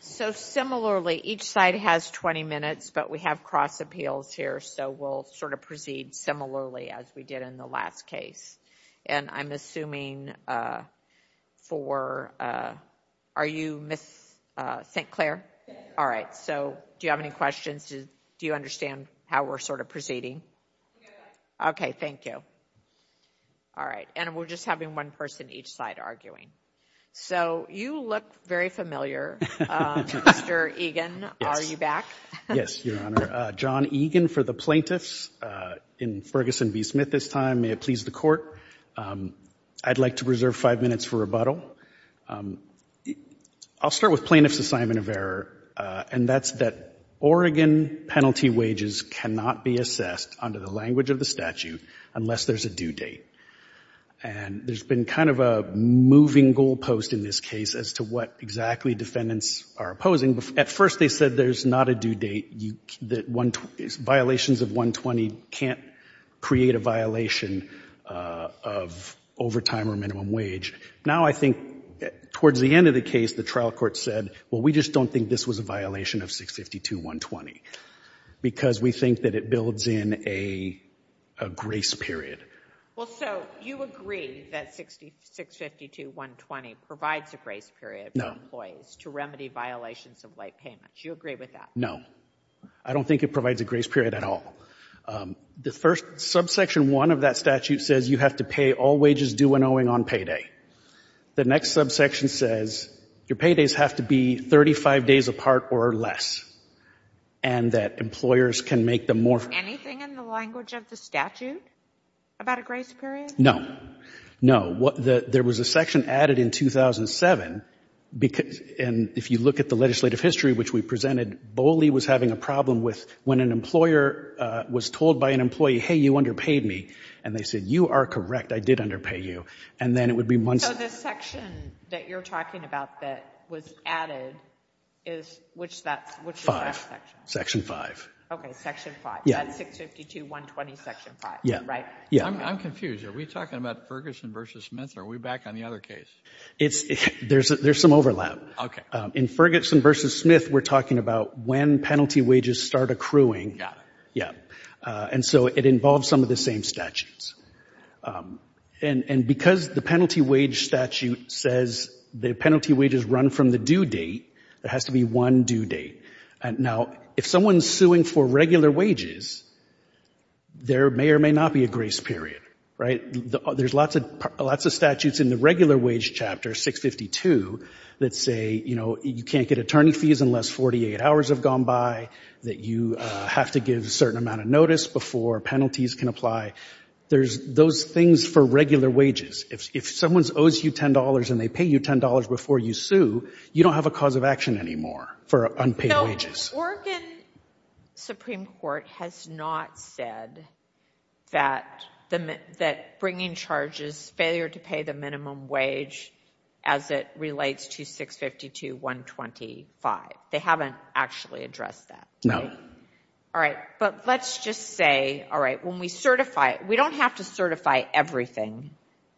So, similarly, each side has 20 minutes, but we have cross appeals here, so we'll sort of proceed similarly as we did in the last case. And I'm assuming for, are you Ms. St. Clair? All right. So, do you have any questions? Do you understand how we're sort of proceeding? Okay. Thank you. All right. And we're just having one person each side arguing. So, you look very familiar. Mr. Egan, are you back? Yes, Your Honor. John Egan for the plaintiffs. In Ferguson v. Smith this time, may it please the Court, I'd like to reserve five minutes for rebuttal. I'll start with plaintiff's assignment of error, and that's that Oregon penalty wages cannot be assessed under the language of the statute unless there's a due date. And there's been kind of a moving goalpost in this case as to what exactly defendants are opposing. At first they said there's not a due date, that violations of 120 can't create a violation of overtime or minimum wage. Now I think towards the end of the case, the trial court said, well, we just don't think this was a violation of 652.120, because we think that it builds in a grace period. Well, so you agree that 652.120 provides a grace period for employees to remedy violations of late payment. Do you agree with that? No. I don't think it provides a grace period at all. The first subsection one of that statute says you have to pay all wages due and owing on payday. The next subsection says your paydays have to be 35 days apart or less, and that employers can make them more. Is there anything in the language of the statute about a grace period? No. No. There was a section added in 2007, and if you look at the legislative history, which we presented, Boley was having a problem with when an employer was told by an employee, hey, you underpaid me, and they said, you are correct, I did underpay you. And then it would be once. So this section that you're talking about that was added is, which is that section? Section five. Okay, section five. That's 652.120, section five. Yeah. Right. Yeah. I'm confused. Are we talking about Ferguson v. Smith, or are we back on the other case? There's some overlap. Okay. In Ferguson v. Smith, we're talking about when penalty wages start accruing. Yeah. Yeah. And so it involves some of the same statutes. And because the penalty wage statute says the penalty wages run from the due date, there has to be one due date. Now, if someone's suing for regular wages, there may or may not be a grace period, right? There's lots of statutes in the regular wage chapter, 652, that say, you know, you can't get attorney fees unless 48 hours have gone by, that you have to give a certain amount of notice before penalties can apply. Those things for regular wages. If someone owes you $10 and they pay you $10 before you sue, you don't have a cause of for unpaid wages. So Oregon Supreme Court has not said that bringing charges, failure to pay the minimum wage as it relates to 652.125. They haven't actually addressed that, right? No. All right. But let's just say, all right, when we certify, we don't have to certify everything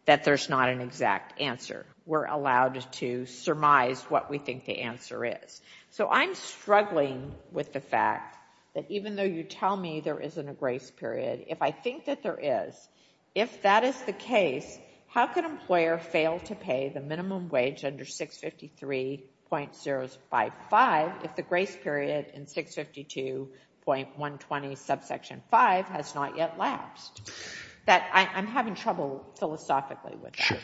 that there's not an exact answer. We're allowed to surmise what we think the answer is. So I'm struggling with the fact that even though you tell me there isn't a grace period, if I think that there is, if that is the case, how could an employer fail to pay the minimum wage under 653.055 if the grace period in 652.120 subsection 5 has not yet lapsed? I'm having trouble philosophically with that. Sure.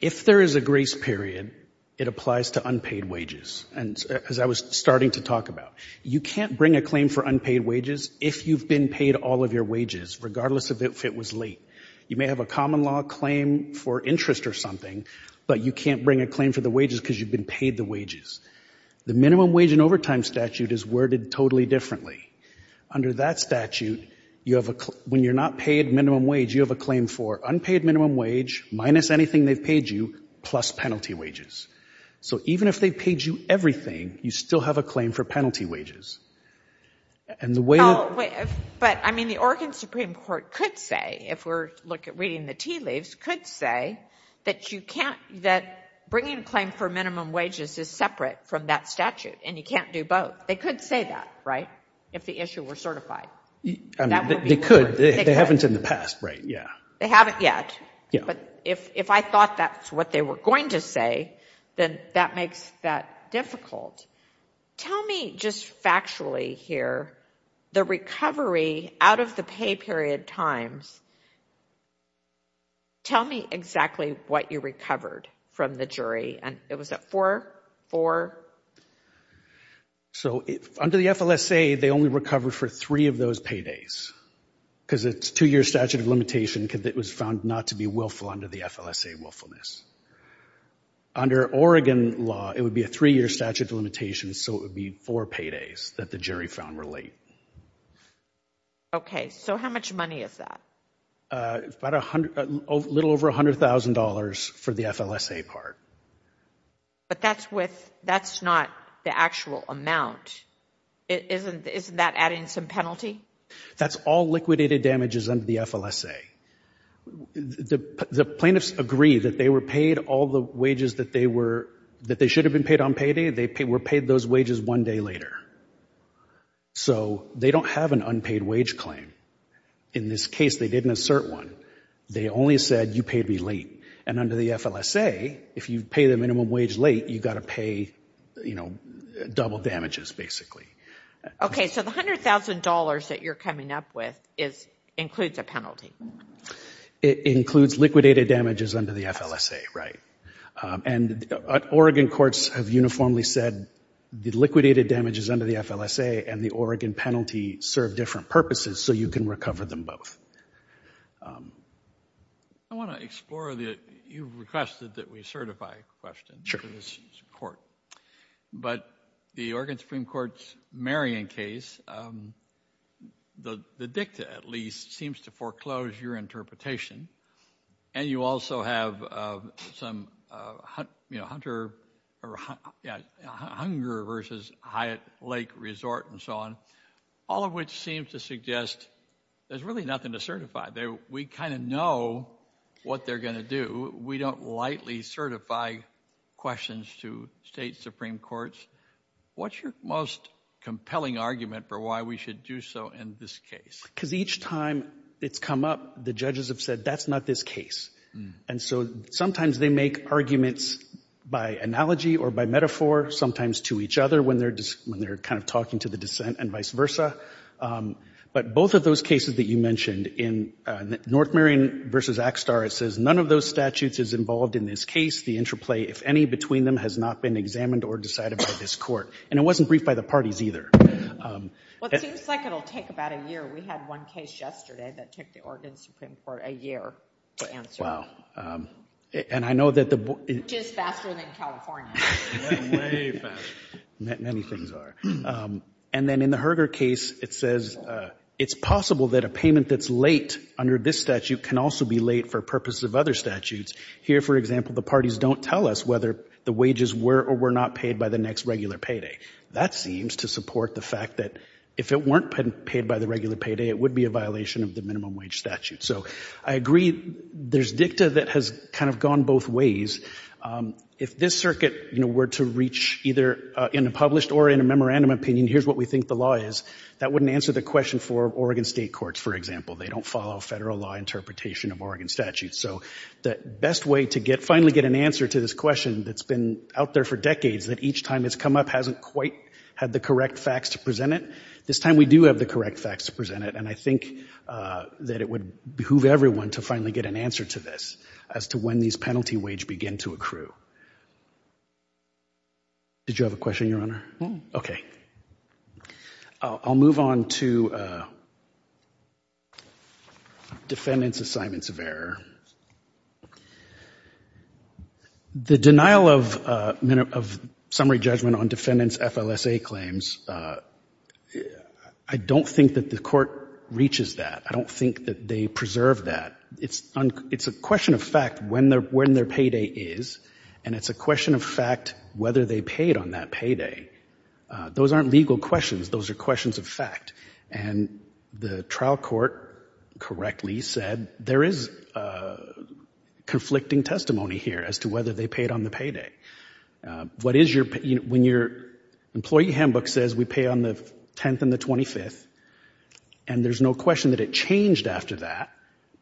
If there is a grace period, it applies to unpaid wages, as I was starting to talk about. You can't bring a claim for unpaid wages if you've been paid all of your wages, regardless of if it was late. You may have a common law claim for interest or something, but you can't bring a claim for the wages because you've been paid the wages. The minimum wage and overtime statute is worded totally differently. Under that statute, when you're not paid minimum wage, you have a claim for unpaid minimum wage, minus anything they've paid you, plus penalty wages. So even if they've paid you everything, you still have a claim for penalty wages. And the way... But, I mean, the Oregon Supreme Court could say, if we're reading the tea leaves, could say that bringing a claim for minimum wages is separate from that statute, and you can't do both. They could say that, right, if the issue were certified? They could. They haven't in the past, right, yeah. They haven't yet. But if I thought that's what they were going to say, then that makes that difficult. Tell me just factually here, the recovery out of the pay period times. Tell me exactly what you recovered from the jury, and it was at four, four? So under the FLSA, they only recovered for three of those paydays, because it's a two-year statute of limitation, because it was found not to be willful under the FLSA willfulness. Under Oregon law, it would be a three-year statute of limitation, so it would be four paydays that the jury found were late. Okay, so how much money is that? About a little over $100,000 for the FLSA part. But that's with... That's not the actual amount. Isn't that adding some penalty? That's all liquidated damages under the FLSA. The plaintiffs agree that they were paid all the wages that they should have been paid on payday, they were paid those wages one day later. So they don't have an unpaid wage claim. In this case, they didn't assert one. They only said, you paid me late. And under the FLSA, if you pay the minimum wage late, you've got to pay, you know, double damages basically. Okay, so the $100,000 that you're coming up with includes a penalty. It includes liquidated damages under the FLSA, right. And Oregon courts have uniformly said the liquidated damages under the FLSA and the Oregon penalty serve different purposes, so you can recover them both. I want to explore the... You requested that we certify a question for this court. But the Oregon Supreme Court's Marion case, the dicta at least, seems to foreclose your interpretation. And you also have some, you know, Hunter versus Hyatt Lake Resort and so on, all of which seems to suggest there's really nothing to certify. We kind of know what they're going to do. We don't lightly certify questions to state supreme courts. What's your most compelling argument for why we should do so in this case? Because each time it's come up, the judges have said, that's not this case. And so sometimes they make arguments by analogy or by metaphor, sometimes to each other when they're kind of talking to the dissent and vice versa. But both of those cases that you mentioned in North Marion versus Axtar, it says none of those statutes is involved in this case. The interplay, if any, between them has not been examined or decided by this court. And it wasn't briefed by the parties either. Well, it seems like it'll take about a year. We had one case yesterday that took the Oregon Supreme Court a year to answer. And I know that the... Which is faster than California. Way faster. Many things are. And then in the Herger case, it says it's possible that a payment that's late under this statute can also be late for purposes of other statutes. Here, for example, the parties don't tell us whether the wages were or were not paid by the next regular payday. That seems to support the fact that if it weren't paid by the regular payday, it would be a violation of the minimum wage statute. So I agree there's dicta that has kind of gone both ways. If this circuit, you know, were to reach either in a published or in a memorandum opinion, here's what we think the law is, that wouldn't answer the question for Oregon state courts, for example. They don't follow federal law interpretation of Oregon statutes. So the best way to finally get an answer to this question that's been out there for decades, that each time it's come up hasn't quite had the correct facts to present it, this time we do have the correct facts to present it. And I think that it would behoove everyone to finally get an answer to this, as to when these penalty wage begin to accrue. Did you have a question, Your Honor? No. Okay. I'll move on to defendant's assignments of error. The denial of summary judgment on defendant's FLSA claims, I don't think that the court reaches that. I don't think that they preserve that. It's a question of fact when their payday is, and it's a question of fact whether they paid on that payday. Those aren't legal questions. Those are questions of fact, and the trial court correctly said there is conflicting testimony here as to whether they paid on the payday. What is your, when your employee handbook says we pay on the 10th and the 25th, and there's no question that it changed after that,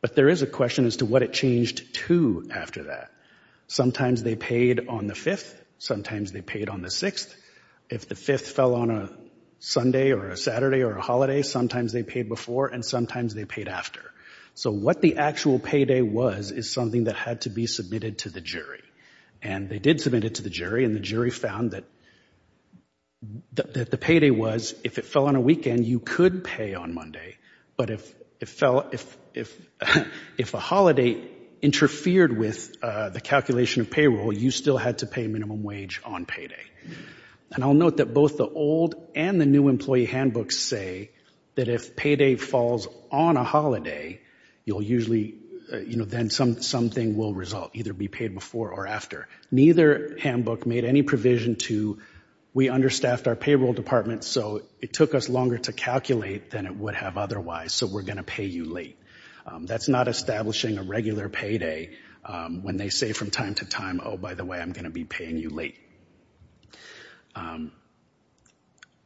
but there is a question as to what it changed to after that. Sometimes they paid on the 5th. Sometimes they paid on the 6th. If the 5th fell on a Sunday or a Saturday or a holiday, sometimes they paid before and sometimes they paid after. So what the actual payday was, is something that had to be submitted to the jury. And they did submit it to the jury, and the jury found that the payday was, if it fell on a weekend, you could pay on Monday, but if a holiday interfered with the calculation of payroll, you still had to pay minimum wage on payday. And I'll note that both the old and the new employee handbooks say that if payday falls on a holiday, you'll usually, you know, then something will result, either be paid before or after. Neither handbook made any provision to, we understaffed our payroll department, so it took us longer to calculate than it would have otherwise, so we're going to pay you late. That's not establishing a regular payday when they say from time to time, oh, by the way, I'm going to be paying you late.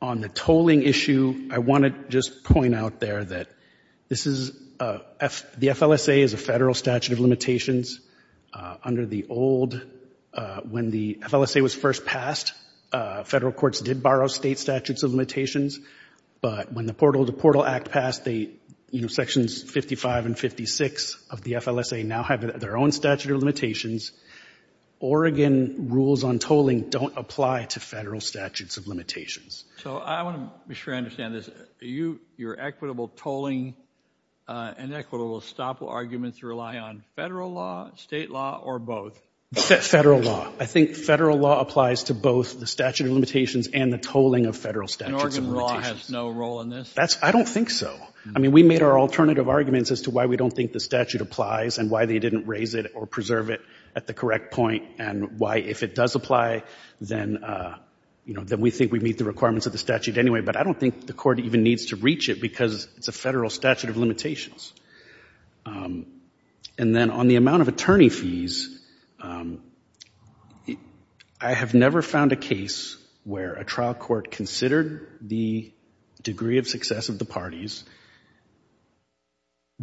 On the tolling issue, I want to just point out there that this is, the FLSA is a federal statute of limitations. Under the old, when the FLSA was first passed, federal courts did borrow state statutes of limitations, but when the Portal to Portal Act passed, you know, Sections 55 and 56 of the FLSA now have their own statute of limitations. Oregon rules on tolling don't apply to federal statutes of limitations. So I want to be sure I understand this, your equitable tolling and equitable estoppel arguments rely on federal law, state law, or both? Federal law. I think federal law applies to both the statute of limitations and the tolling of federal statutes of limitations. And Oregon law has no role in this? I don't think so. I mean, we made our alternative arguments as to why we don't think the statute applies and why they didn't raise it or preserve it at the correct point and why if it does apply, then we think we meet the requirements of the statute anyway, but I don't think the court even needs to reach it because it's a federal statute of limitations. And then on the amount of attorney fees, I have never found a case where a trial court considered the degree of success of the parties,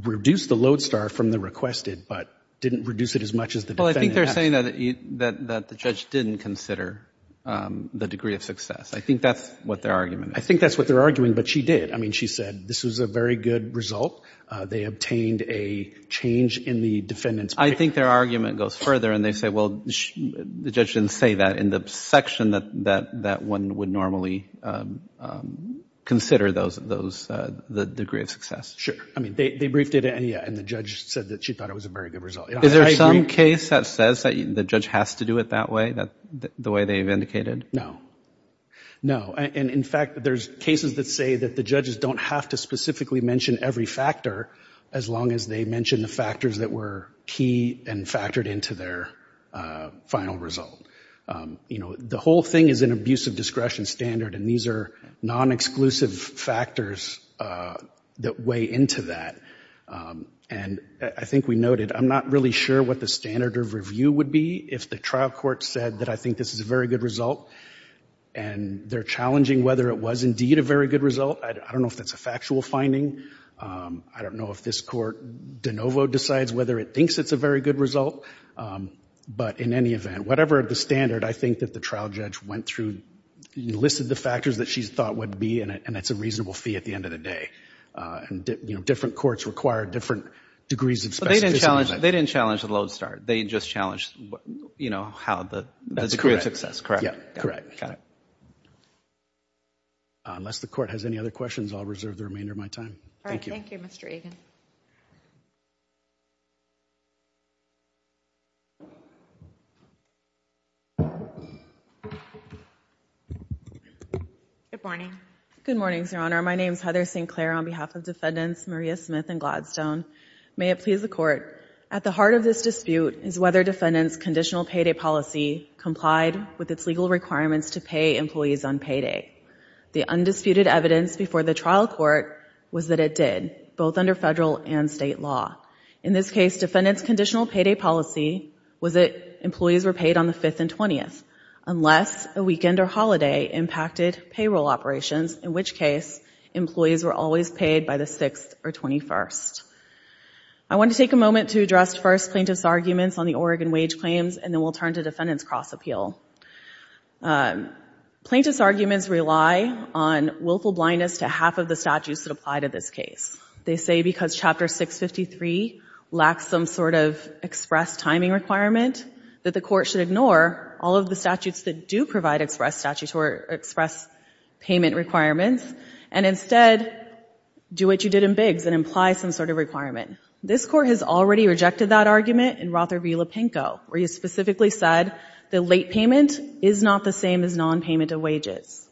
reduced the load star from the requested, but didn't reduce it as much as the defendant. Well, I think they're saying that the judge didn't consider the degree of success. I think that's what their argument is. I think that's what they're arguing, but she did. I mean, she said this was a very good result. They obtained a change in the defendant's paper. I think their argument goes further, and they say, well, the judge didn't say that in the section that one would normally consider the degree of success. Sure. I mean, they briefed it, and yeah, and the judge said that she thought it was a very good result. I agree. Is there some case that says that the judge has to do it that way, the way they've indicated? No. No. And in fact, there's cases that say that the judges don't have to specifically mention every factor as long as they mention the factors that were key and factored into their final result. You know, the whole thing is an abuse of discretion standard, and these are non-exclusive factors that weigh into that. And I think we noted, I'm not really sure what the standard of review would be if the trial court said that I think this is a very good result, and they're challenging whether it was indeed a very good result. I don't know if that's a factual finding. I don't know if this court de novo decides whether it thinks it's a very good result. But in any event, whatever the standard, I think that the trial judge went through, listed the factors that she thought would be, and it's a reasonable fee at the end of the day. And, you know, different courts require different degrees of specificity. They didn't challenge the load start. They just challenged, you know, how the degree of success, correct? Yeah, correct. Got it. Unless the court has any other questions, I'll reserve the remainder of my time. Thank you. Good morning. Good morning, Your Honor. My name is Heather Sinclair on behalf of Defendants Maria Smith and Gladstone. May it please the Court. At the heart of this dispute is whether Defendant's conditional payday policy complied with its legal requirements to pay employees on payday. The undisputed evidence before the trial court was that it did, both under federal and state law. In this case, Defendant's conditional payday policy was that employees were paid on the 5th and 20th, unless a weekend or holiday impacted payroll operations, in which case employees were always paid by the 6th or 21st. I want to take a moment to address first plaintiff's arguments on the Oregon wage claims, and then we'll turn to Defendant's cross-appeal. Plaintiff's arguments rely on willful blindness to half of the statutes that apply to this case. They say because Chapter 653 lacks some sort of express timing requirement, that the court should ignore all of the statutes that do provide express payment requirements, and instead do what you did in Biggs and imply some sort of requirement. This Court has already rejected that argument in Rother v. Lepenko, where you specifically said the late payment is not the same as non-payment of wages.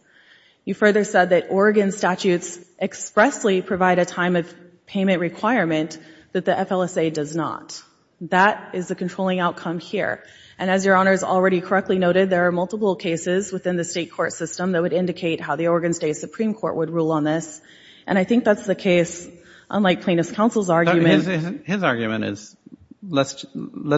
You further said that Oregon statutes expressly provide a time of payment requirement that the FLSA does not. That is the controlling outcome here, and as Your Honors already correctly noted, there are multiple cases within the state court system that would indicate how the Oregon State Supreme Court would rule on this, and I think that's the case, unlike Plaintiff's counsel's argument. But his argument is, let's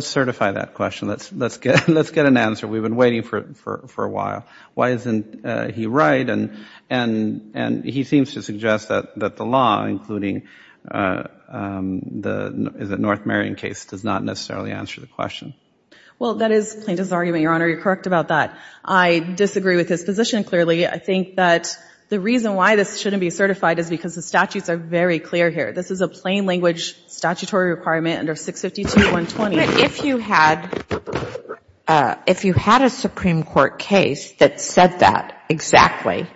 certify that question, let's get an answer, we've been waiting for a while. Why isn't he right? And he seems to suggest that the law, including the North Marion case, does not necessarily answer the question. Well, that is Plaintiff's argument, Your Honor, you're correct about that. I disagree with his position clearly. I think that the reason why this shouldn't be certified is because the statutes are very clear here. This is a plain language statutory requirement under 652.120. If you had a Supreme Court case that said that exactly,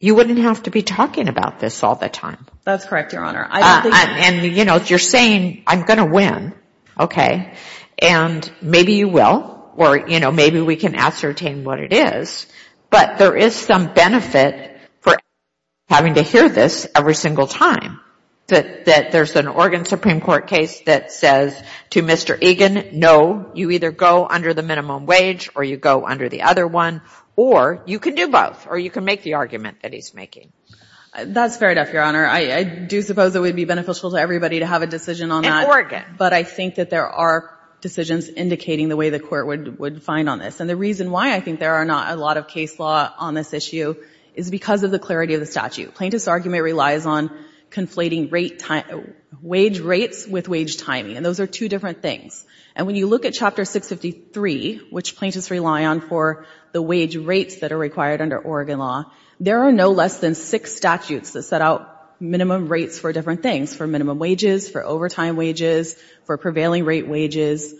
you wouldn't have to be talking about this all the time. That's correct, Your Honor. And, you know, you're saying I'm going to win, okay, and maybe you will, or, you know, maybe we can ascertain what it is, but there is some benefit for having to hear this every single time, that there's an Oregon Supreme Court case that says to Mr. Egan, no, you either go under the minimum wage, or you go under the other one, or you can do both, or you can make the argument that he's making. That's fair enough, Your Honor. I do suppose it would be beneficial to everybody to have a decision on that. In Oregon. But I think that there are decisions indicating the way the Court would find on this, and the reason why I think there are not a lot of case law on this issue is because of the clarity of the statute. Plaintiff's argument relies on conflating wage rates with wage timing, and those are two different things. And when you look at Chapter 653, which plaintiffs rely on for the wage rates that are required under Oregon law, there are no less than six statutes that set out minimum rates for different things, for minimum wages, for overtime wages, for prevailing rate wages.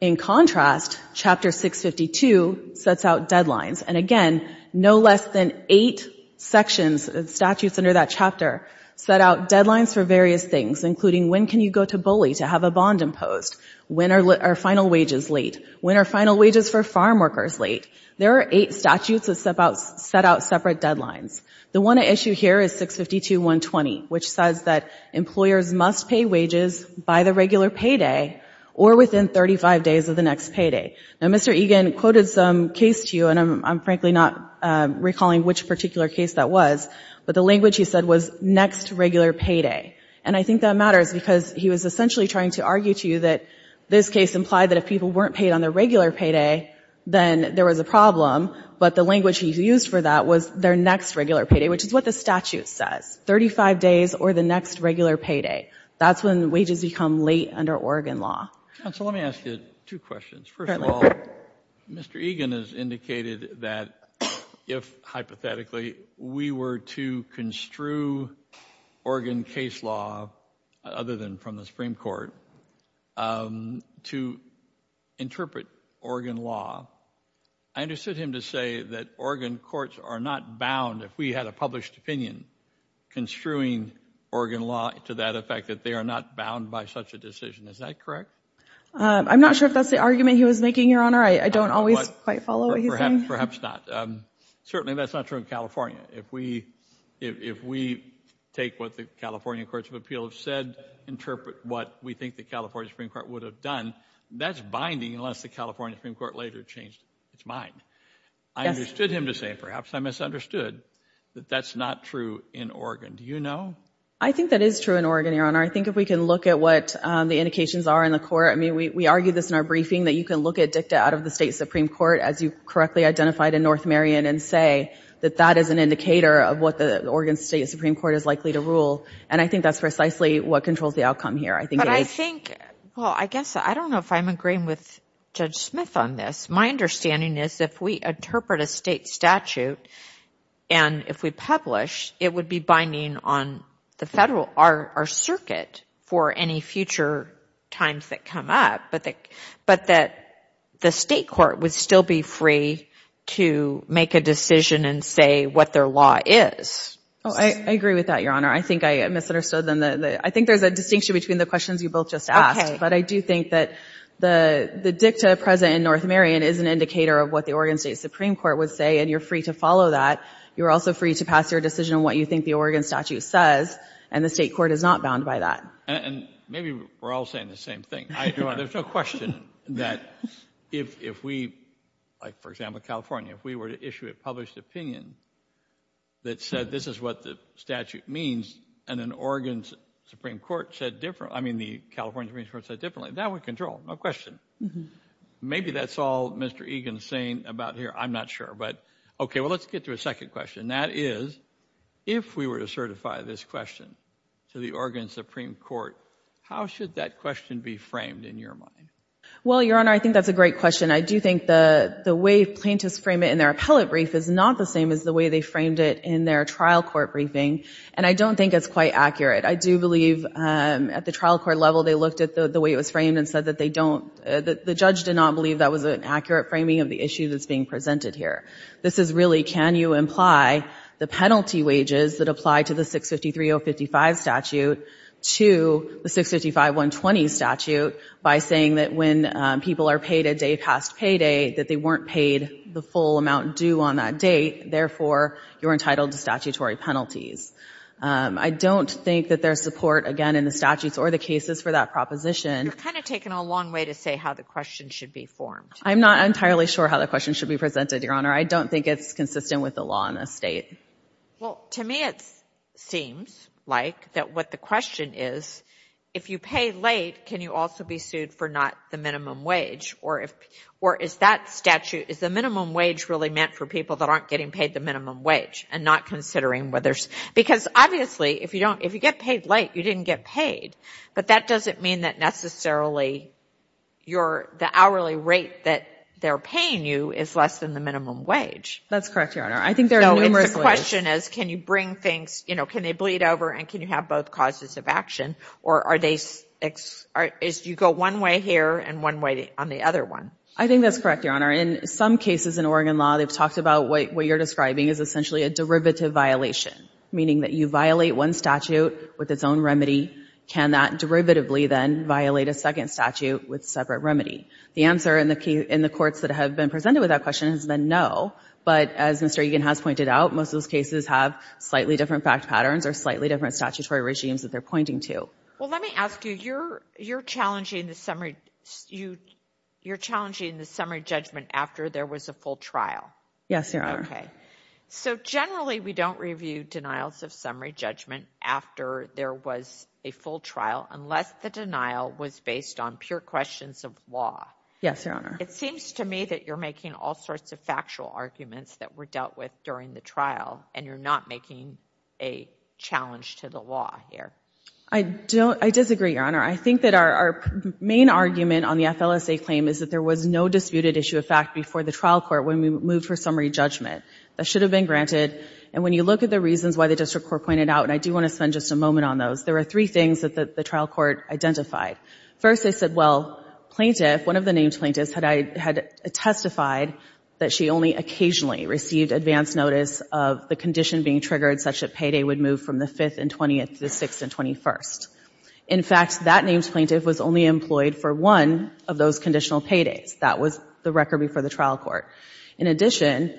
In contrast, Chapter 652 sets out deadlines. And again, no less than eight sections, statutes under that chapter, set out deadlines for various things, including when can you go to bully to have a bond imposed? When are final wages late? When are final wages for farm workers late? There are eight statutes that set out separate deadlines. The one at issue here is 652.120, which says that employers must pay wages by the regular payday or within 35 days of the next payday. Now, Mr. Egan quoted some case to you, and I'm frankly not recalling which particular case that was, but the language he said was next regular payday. And I think that matters because he was essentially trying to argue to you that this case implied that if people weren't paid on their regular payday, then there was a problem. But the language he used for that was their next regular payday, which is what the statute says, 35 days or the next regular payday. That's when wages become late under Oregon law. Counsel, let me ask you two questions. First of all, Mr. Egan has indicated that if, hypothetically, we were to construe Oregon case law, other than from the Supreme Court, to interpret Oregon law, I understood him to say that Oregon courts are not bound, if we had a published opinion, construing Oregon law to that effect, that they are not bound by such a decision. Is that correct? I'm not sure if that's the argument he was making, Your Honor. I don't always quite follow what he's saying. Perhaps not. Certainly, that's not true in California. If we take what the California Courts of Appeal have said, interpret what we think the California Supreme Court would have done, that's binding unless the California Supreme Court later changed its mind. I understood him to say, perhaps I misunderstood, that that's not true in Oregon. Do you know? I think that is true in Oregon, Your Honor. I think if we can look at what the indications are in the court, I mean, we argued this in our briefing, that you can look at dicta out of the State Supreme Court, as you correctly identified in North Marion, and say that that is an indicator of what the Oregon State Supreme Court is likely to rule. And I think that's precisely what controls the outcome here. I think it is. But I think, well, I guess, I don't know if I'm agreeing with Judge Smith on this. My understanding is, if we interpret a state statute, and if we publish, it would be binding on the federal, our circuit, for any future times that come up. But that the state court would still be free to make a decision and say what their law is. Oh, I agree with that, Your Honor. I think I misunderstood. I think there's a distinction between the questions you both just asked. But I do think that the dicta present in North Marion is an indicator of what the Oregon State Supreme Court would say, and you're free to follow that. You're also free to pass your decision on what you think the Oregon statute says, and the state court is not bound by that. And maybe we're all saying the same thing. I don't know. There's no question that if we, like, for example, California, if we were to issue a published opinion that said this is what the statute means, and then Oregon's Supreme Court said different, I mean, the California Supreme Court said differently, that would control. No question. Maybe that's all Mr. Egan's saying about here. I'm not sure. Okay, well, let's get to a second question, and that is, if we were to certify this question to the Oregon Supreme Court, how should that question be framed in your mind? Well, Your Honor, I think that's a great question. I do think the way plaintiffs frame it in their appellate brief is not the same as the way they framed it in their trial court briefing, and I don't think it's quite accurate. I do believe at the trial court level, they looked at the way it was framed and said that they don't, the judge did not believe that was an accurate framing of the issue that's being presented here. This is really, can you imply the penalty wages that apply to the 653.055 statute to the 655.120 statute by saying that when people are paid a day past payday, that they weren't paid the full amount due on that date, therefore, you're entitled to statutory penalties. I don't think that there's support, again, in the statutes or the cases for that proposition. You're kind of taking a long way to say how the question should be formed. I'm not entirely sure how the question should be presented, Your Honor. I don't think it's consistent with the law in this state. Well, to me, it seems like that what the question is, if you pay late, can you also be sued for not the minimum wage, or is that statute, is the minimum wage really meant for people that aren't getting paid the minimum wage and not considering whether, because obviously, if you don't, if you get paid late, you didn't get paid, but that doesn't mean that necessarily your, the hourly rate that they're paying you is less than the minimum wage. That's correct, Your Honor. I think there are numerous ways. So it's a question as can you bring things, you know, can they bleed over and can you have both causes of action, or are they, is you go one way here and one way on the other one? I think that's correct, Your Honor. In some cases in Oregon law, they've talked about what you're describing is essentially a derivative violation, meaning that you violate one statute with its own remedy. Can that derivatively then violate a second statute with separate remedy? The answer in the courts that have been presented with that question has been no, but as Mr. Egan has pointed out, most of those cases have slightly different fact patterns or slightly different statutory regimes that they're pointing to. Well, let me ask you, you're challenging the summary, you're challenging the summary judgment after there was a full trial. Yes, Your Honor. Okay. So generally, we don't review denials of summary judgment after there was a full trial unless the denial was based on pure questions of law. Yes, Your Honor. It seems to me that you're making all sorts of factual arguments that were dealt with during the trial, and you're not making a challenge to the law here. I disagree, Your Honor. I think that our main argument on the FLSA claim is that there was no disputed issue of fact before the trial court when we moved for summary judgment that should have been granted. And when you look at the reasons why the district court pointed out, and I do want to spend just a moment on those, there were three things that the trial court identified. First, they said, well, plaintiff, one of the named plaintiffs had testified that she only occasionally received advance notice of the condition being triggered such that payday would move from the 5th and 20th to the 6th and 21st. In fact, that named plaintiff was only employed for one of those conditional paydays. That was the record before the trial court. In addition,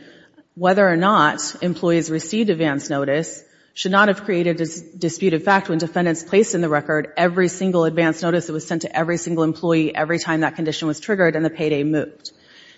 whether or not employees received advance notice should not have created a dispute of fact when defendants placed in the record every single advance notice that was sent to every single employee every time that condition was triggered and the payday moved.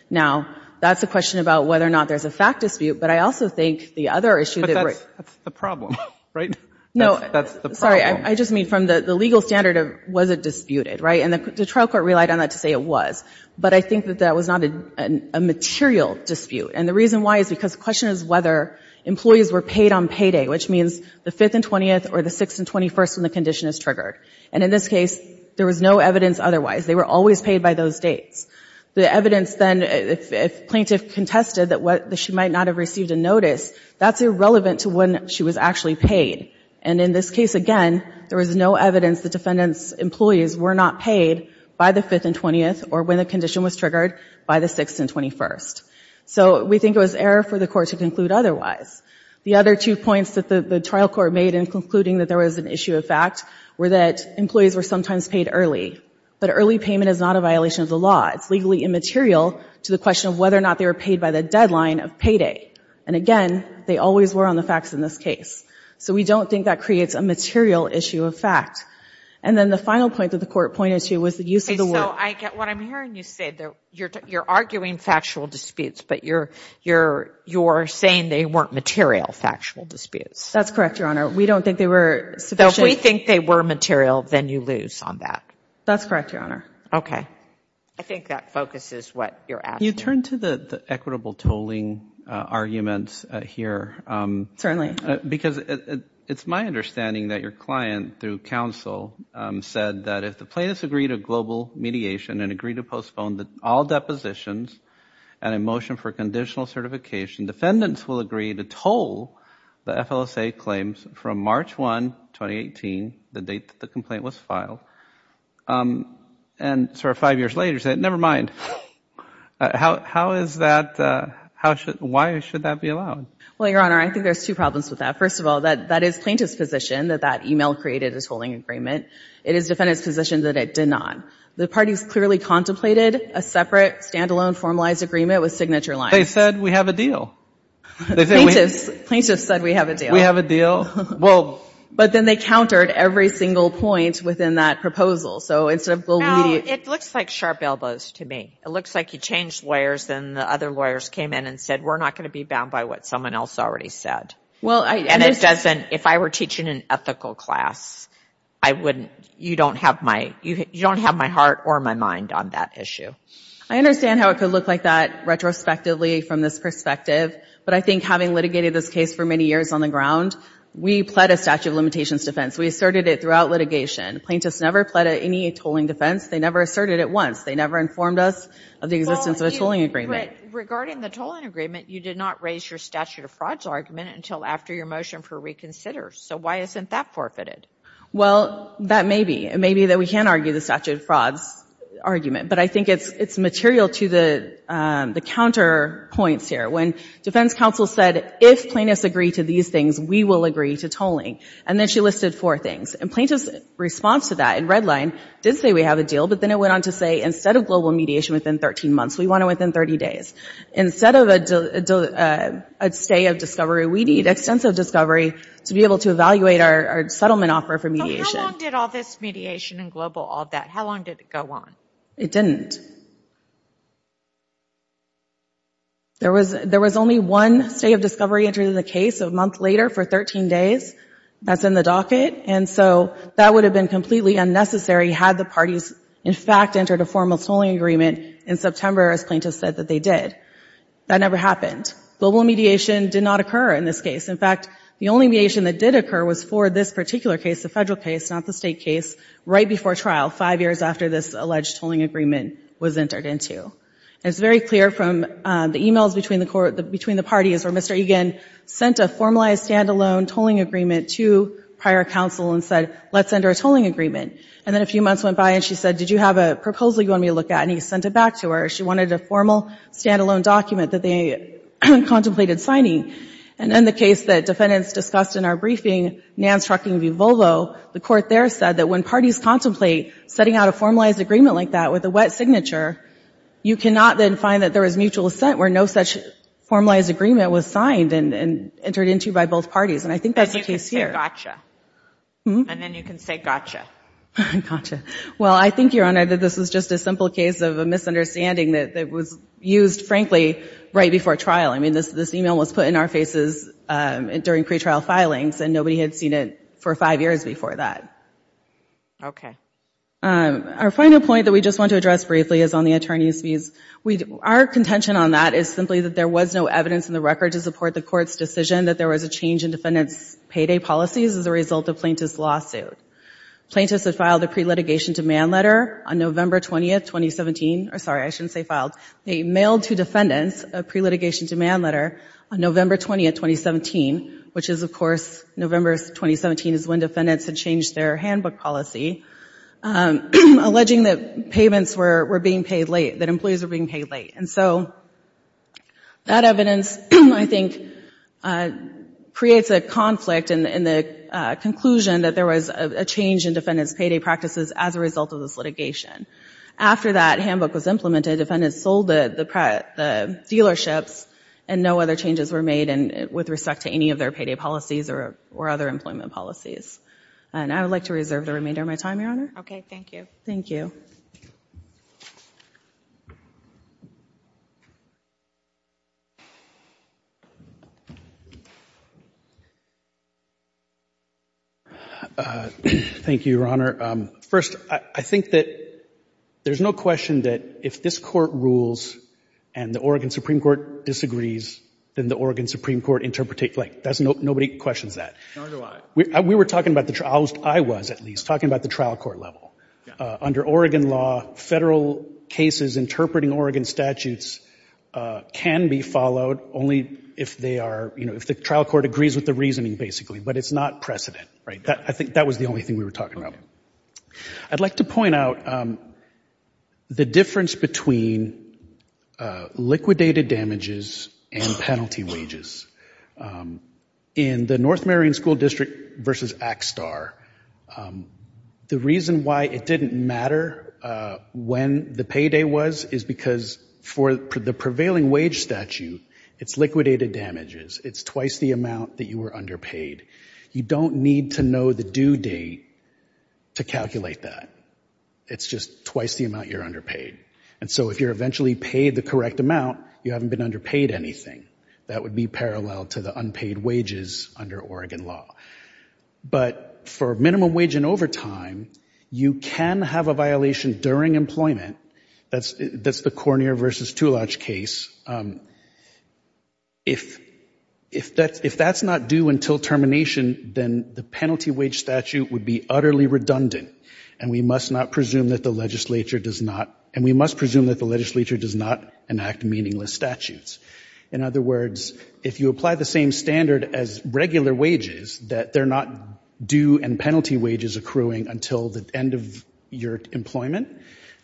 Now, that's a question about whether or not there's a fact dispute, but I also think the other issue that we're— But that's the problem, right? That's the problem. No, sorry. I just mean from the legal standard, was it disputed, right? And the trial court relied on that to say it was. But I think that that was not a material dispute. And the reason why is because the question is whether employees were paid on payday, which means the 5th and 20th or the 6th and 21st when the condition is triggered. And in this case, there was no evidence otherwise. They were always paid by those dates. The evidence then, if plaintiff contested that she might not have received a notice, that's irrelevant to when she was actually paid. And in this case, again, there was no evidence the defendant's employees were not paid by the 5th and 20th or when the condition was triggered by the 6th and 21st. So we think it was error for the court to conclude otherwise. The other two points that the trial court made in concluding that there was an issue of fact were that employees were sometimes paid early, but early payment is not a violation of the law. It's legally immaterial to the question of whether or not they were paid by the deadline of payday. And again, they always were on the facts in this case. So we don't think that creates a material issue of fact. And then the final point that the court pointed to was the use of the word. Okay, so I get what I'm hearing you say. You're arguing factual disputes, but you're saying they weren't material factual disputes. That's correct, Your Honor. We don't think they were sufficient. So if we think they were material, then you lose on that. That's correct, Your Honor. Okay. I think that focuses what you're asking. You turn to the equitable tolling arguments here. Certainly. Because it's my understanding that your client, through counsel, said that if the plaintiffs agree to global mediation and agree to postpone all depositions and a motion for conditional certification, defendants will agree to toll the FLSA claims from March 1, 2018, the date that the complaint was filed, and sort of five years later say, never mind. How is that, why should that be allowed? Well, Your Honor, I think there's two problems with that. First of all, that is plaintiff's position that that email created a tolling agreement. It is defendant's position that it did not. The parties clearly contemplated a separate, standalone, formalized agreement with signature lines. They said, we have a deal. They said, we have a deal. Plaintiffs said, we have a deal. We have a deal. Well. But then they countered every single point within that proposal. So instead of global mediation. It looks like sharp elbows to me. It looks like you changed lawyers and the other lawyers came in and said, we're not going to be bound by what someone else already said. Well, I. And it doesn't. If I were teaching an ethical class, I wouldn't, you don't have my, you don't have my heart or my mind on that issue. I understand how it could look like that retrospectively from this perspective. But I think having litigated this case for many years on the ground, we pled a statute of limitations defense. We asserted it throughout litigation. Plaintiffs never pled any tolling defense. They never asserted it once. They never informed us of the existence of a tolling agreement. But regarding the tolling agreement, you did not raise your statute of frauds argument until after your motion for reconsider. So why isn't that forfeited? Well, that may be. It may be that we can argue the statute of frauds argument. But I think it's, it's material to the counter points here. When defense counsel said, if plaintiffs agree to these things, we will agree to tolling. And then she listed four things. And plaintiffs response to that in red line did say we have a deal. But then it went on to say, instead of global mediation within 13 months, we want it within 30 days. Instead of a stay of discovery, we need extensive discovery to be able to evaluate our settlement offer for mediation. So how long did all this mediation and global, all that, how long did it go on? It didn't. There was, there was only one stay of discovery entering the case a month later for 13 days. That's in the docket. And so that would have been completely unnecessary had the parties, in fact, entered a formal tolling agreement in September, as plaintiffs said that they did. That never happened. Global mediation did not occur in this case. In fact, the only mediation that did occur was for this particular case, the federal case, not the state case, right before trial, five years after this alleged tolling agreement was entered into. And it's very clear from the emails between the parties where Mr. Egan sent a formalized standalone tolling agreement to prior counsel and said, let's enter a tolling agreement. And then a few months went by and she said, did you have a proposal you want me to look at? And he sent it back to her. She wanted a formal standalone document that they contemplated signing. And in the case that defendants discussed in our briefing, Nance Trucking v. Volvo, the court there said that when parties contemplate setting out a formalized agreement like that with a wet signature, you cannot then find that there was mutual assent where no such formalized agreement was signed and entered into by both parties. And I think that's the case here. And you can say gotcha. Hmm? Gotcha. Well, I think, Your Honor, that this was just a simple case of a misunderstanding that was used, frankly, right before trial. I mean, this email was put in our faces during pretrial filings and nobody had seen it for five years before that. Okay. Our final point that we just want to address briefly is on the attorney's fees. Our contention on that is simply that there was no evidence in the record to support the court's decision that there was a change in defendants' payday policies as a result of plaintiff's lawsuit. Plaintiffs had filed a pre-litigation demand letter on November 20, 2017, or sorry, I shouldn't say filed. They mailed to defendants a pre-litigation demand letter on November 20, 2017, which is, of course, November 2017 is when defendants had changed their handbook policy, alleging that payments were being paid late, that employees were being paid late. And so that evidence, I think, creates a conflict in the conclusion that there was a change in defendants' payday practices as a result of this litigation. After that handbook was implemented, defendants sold the dealerships and no other changes were made with respect to any of their payday policies or other employment policies. And I would like to reserve the remainder of my time, Your Honor. Okay. Thank you. Thank you. Thank you. Thank you. Thank you, Your Honor. First, I think that there's no question that if this Court rules and the Oregon Supreme Court disagrees, then the Oregon Supreme Court interpretate, like, that's no, nobody questions that. Nor do I. We were talking about the, I was at least, talking about the trial court level. Yeah. Under Oregon law, federal cases interpreting Oregon statutes can be followed only if they are, you know, if the trial court agrees with the reasoning, basically. But it's not precedent. Right? I think that was the only thing we were talking about. I'd like to point out the difference between liquidated damages and penalty wages. In the North Marion School District versus ACSTAR, the reason why it didn't matter when the payday was is because for the prevailing wage statute, it's liquidated damages. It's twice the amount that you were underpaid. You don't need to know the due date to calculate that. It's just twice the amount you're underpaid. And so if you're eventually paid the correct amount, you haven't been underpaid anything. That would be parallel to the unpaid wages under Oregon law. But for minimum wage and overtime, you can have a violation during employment. That's the Cornier versus Toulage case. If that's not due until termination, then the penalty wage statute would be utterly redundant and we must not presume that the legislature does not, and we must presume that the legislature does not enact meaningless statutes. In other words, if you apply the same standard as regular wages, that they're not due and penalty wages accruing until the end of your employment,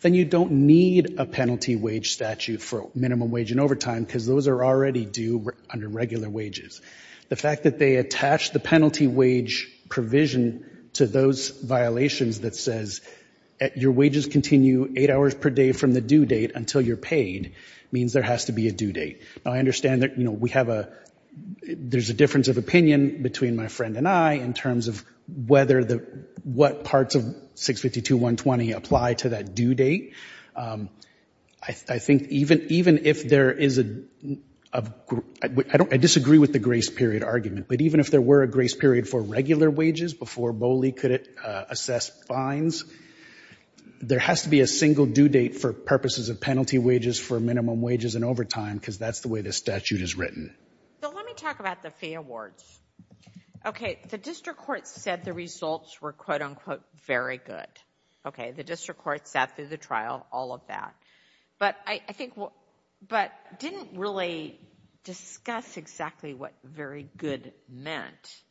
then you don't need a penalty wage statute for minimum wage and overtime because those are already due under regular wages. The fact that they attach the penalty wage provision to those violations that says your wages continue eight hours per day from the due date until you're paid means there has to be a due date. Now, I understand that, you know, we have a, there's a difference of opinion between my friend and I in terms of whether the, what parts of 652.120 apply to that due date. I think even if there is a, I disagree with the grace period argument, but even if there were a grace period for regular wages before Boley could assess fines, there has to be a single due date for purposes of penalty wages for minimum wages and overtime because that's the way the statute is written. So let me talk about the fee awards. Okay, the district court said the results were, quote-unquote, very good. Okay, the district court sat through the trial, all of that, but I think, but didn't really discuss exactly what very good meant.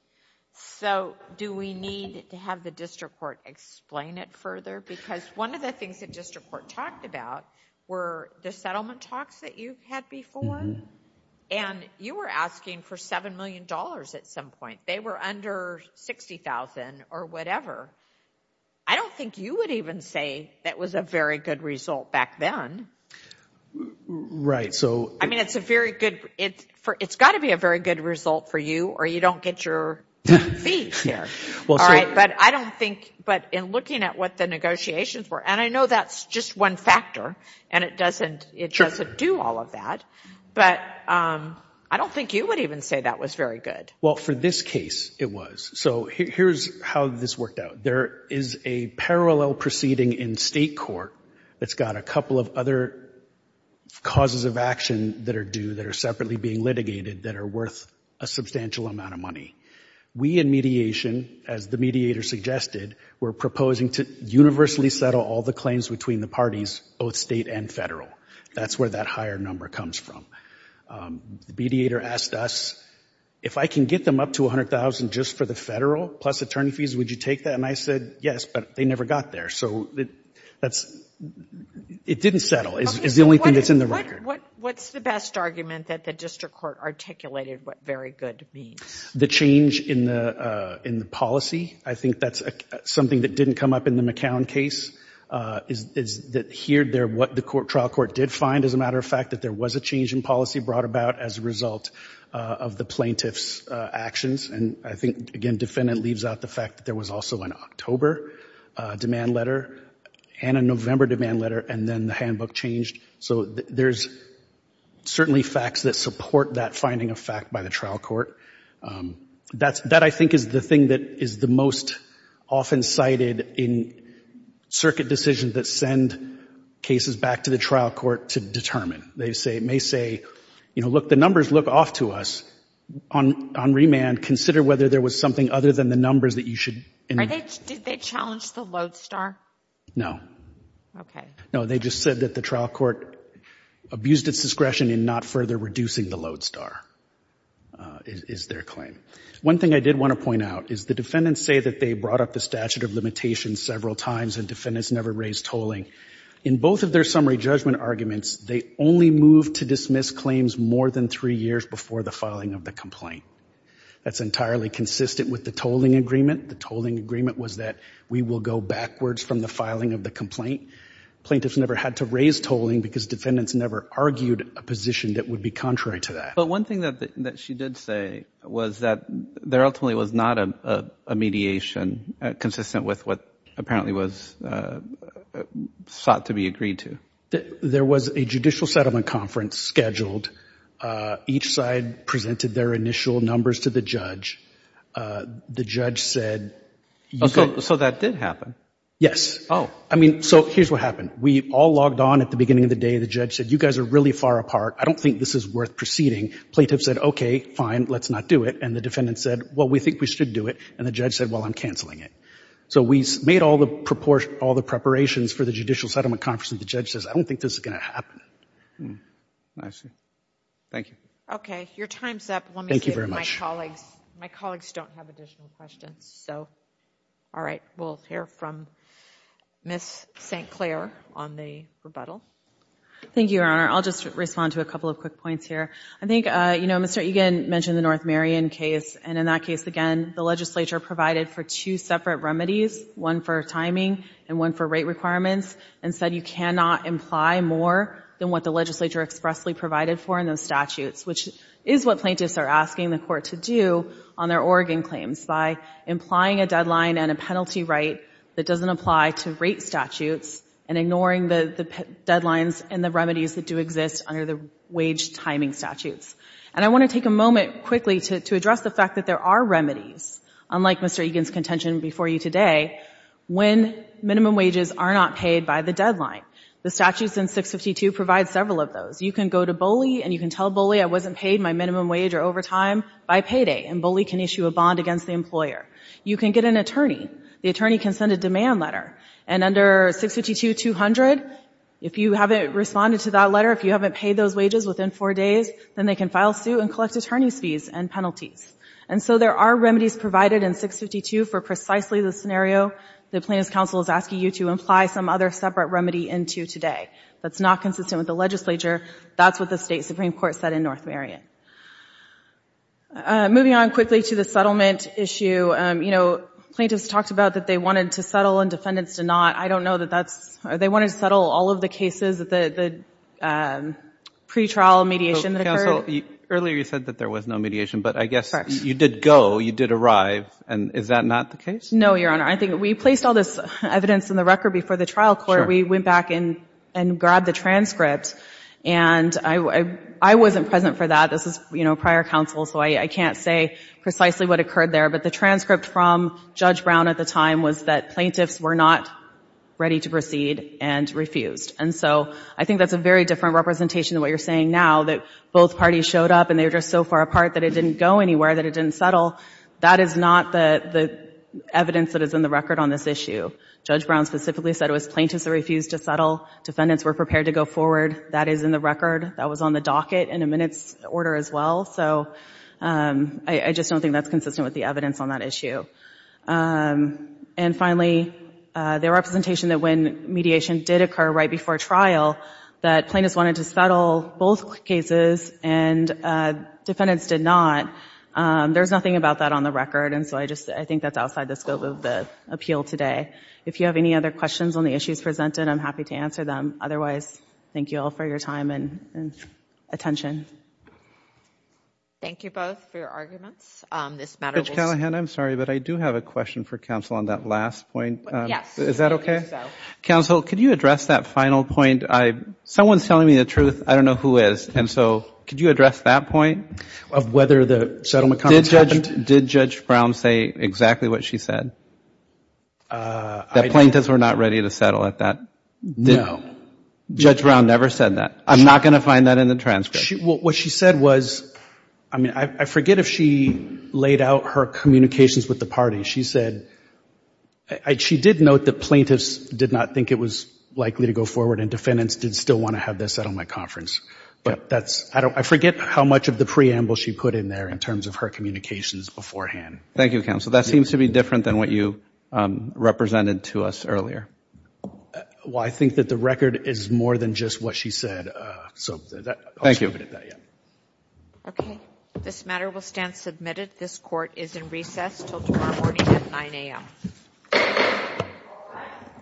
So do we need to have the district court explain it further because one of the things that district court talked about were the settlement talks that you had before and you were asking for $7 million at some point. They were under $60,000 or whatever. I don't think you would even say that was a very good result back then. Right, so... I mean, it's a very good, it's got to be a very good result for you or you don't get your fee here. But I don't think, but in looking at what the negotiations were, and I know that's just one factor and it doesn't do all of that, but I don't think you would even say that was very good. Well, for this case, it was. So here's how this worked out. There is a parallel proceeding in state court that's got a couple of other causes of action that are due, that are separately being litigated, that are worth a substantial amount of money. We in mediation, as the mediator suggested, were proposing to universally settle all the claims between the parties, both state and federal. That's where that higher number comes from. The mediator asked us, if I can get them up to $100,000 just for the federal plus attorney fees, would you take that? And I said, yes, but they never got there. So that's, it didn't settle, is the only thing that's in the record. What's the best argument that the district court articulated what very good means? The change in the policy. I think that's something that didn't come up in the McCown case, is that here, what the trial court did find, as a matter of fact, that there was a change in policy brought about as a result of the plaintiff's actions. And I think, again, defendant leaves out the fact that there was also an October demand letter and a November demand letter, and then the handbook changed. So there's certainly facts that support that finding of fact by the trial court. That I think is the thing that is the most often cited in circuit decisions that send cases back to the trial court to determine. They may say, you know, look, the numbers look off to us. On remand, consider whether there was something other than the numbers that you should... Are they, did they challenge the lodestar? No. Okay. No, they just said that the trial court abused its discretion in not further reducing the lodestar, is their claim. One thing I did want to point out is the defendants say that they brought up the statute of limitations several times and defendants never raised tolling. In both of their summary judgment arguments, they only moved to dismiss claims more than three years before the filing of the complaint. That's entirely consistent with the tolling agreement. The tolling agreement was that we will go backwards from the filing of the complaint. Plaintiffs never had to raise tolling because defendants never argued a position that would be contrary to that. But one thing that she did say was that there ultimately was not a mediation consistent with what apparently was sought to be agreed to. There was a judicial settlement conference scheduled. Each side presented their initial numbers to the judge. The judge said... So that did happen? Yes. Oh. I mean, so here's what happened. We all logged on at the beginning of the day. The judge said, you guys are really far apart. I don't think this is worth proceeding. Plaintiffs said, okay, fine. Let's not do it. And the defendant said, well, we think we should do it. And the judge said, well, I'm canceling it. So we made all the preparations for the judicial settlement conference and the judge says, I don't think this is going to happen. I see. Thank you. Okay. Your time's up. Thank you very much. Let me see if my colleagues... My colleagues don't have additional questions, so... All right. We'll hear from Ms. St. Clair on the rebuttal. Thank you, Your Honor. I'll just respond to a couple of quick points here. I think, you know, Mr. Egan mentioned the North Marion case, and in that case, again, the legislature provided for two separate remedies, one for timing and one for rate requirements, and said you cannot imply more than what the legislature expressly provided for in those statutes, which is what plaintiffs are asking the court to do on their Oregon claims, by implying a deadline and a penalty right that doesn't apply to rate statutes and ignoring the deadlines and the remedies that do exist under the wage timing statutes. And I want to take a moment quickly to address the fact that there are remedies, unlike Mr. Egan's contention before you today, when minimum wages are not paid by the deadline. The statutes in 652 provide several of those. You can go to Boley and you can tell Boley I wasn't paid my minimum wage or overtime by payday, and Boley can issue a bond against the employer. You can get an attorney. The attorney can send a demand letter. And under 652-200, if you haven't responded to that letter, if you haven't paid those wages within four days, then they can file suit and collect attorney's fees and penalties. And so there are remedies provided in 652 for precisely the scenario the plaintiff's counsel is asking you to imply some other separate remedy into today. That's not consistent with the legislature. That's what the State Supreme Court said in North Marion. Moving on quickly to the settlement issue, you know, plaintiffs talked about that they wanted to settle and defendants did not. I don't know that that's or they wanted to settle all of the cases, the pretrial mediation that occurred. Counsel, earlier you said that there was no mediation, but I guess you did go, you did arrive, and is that not the case? No, Your Honor. I think we placed all this evidence in the record before the trial court. Sure. We went back and grabbed the transcript, and I wasn't present for that. This is, you know, prior counsel, so I can't say precisely what occurred there. But the transcript from Judge Brown at the time was that plaintiffs were not ready to proceed and refused. And so I think that's a very different representation of what you're saying now, that both parties showed up and they were just so far apart that it didn't go anywhere, that it didn't settle. That is not the evidence that is in the record on this issue. Judge Brown specifically said it was plaintiffs that refused to settle. Defendants were prepared to go forward. That is in the record. That was on the docket in a minutes order as well. So I just don't think that's consistent with the evidence on that issue. And finally, the representation that when mediation did occur right before trial, that plaintiffs wanted to settle both cases and defendants did not, there's nothing about that on the record. And so I just, I think that's outside the scope of the appeal today. If you have any other questions on the issues presented, I'm happy to answer them. Otherwise, thank you all for your time and attention. Thank you both for your arguments. Judge Callahan, I'm sorry, but I do have a question for counsel on that last point. Yes. Is that okay? Counsel, could you address that final point? Someone's telling me the truth. I don't know who is. And so could you address that point? Of whether the settlement conference happened? Did Judge Brown say exactly what she said? That plaintiffs were not ready to settle at that? No. Judge Brown never said that. I'm not going to find that in the transcript. What she said was, I mean, I forget if she laid out her communications with the party. She said, she did note that plaintiffs did not think it was likely to go forward and defendants did still want to have this settlement conference. But that's, I forget how much of the preamble she put in there in terms of her communications beforehand. Thank you, counsel. That seems to be different than what you represented to us earlier. Well, I think that the record is more than just what she said. Thank you. Okay. This matter will stand submitted. This court is in recess until tomorrow morning at 9 a.m.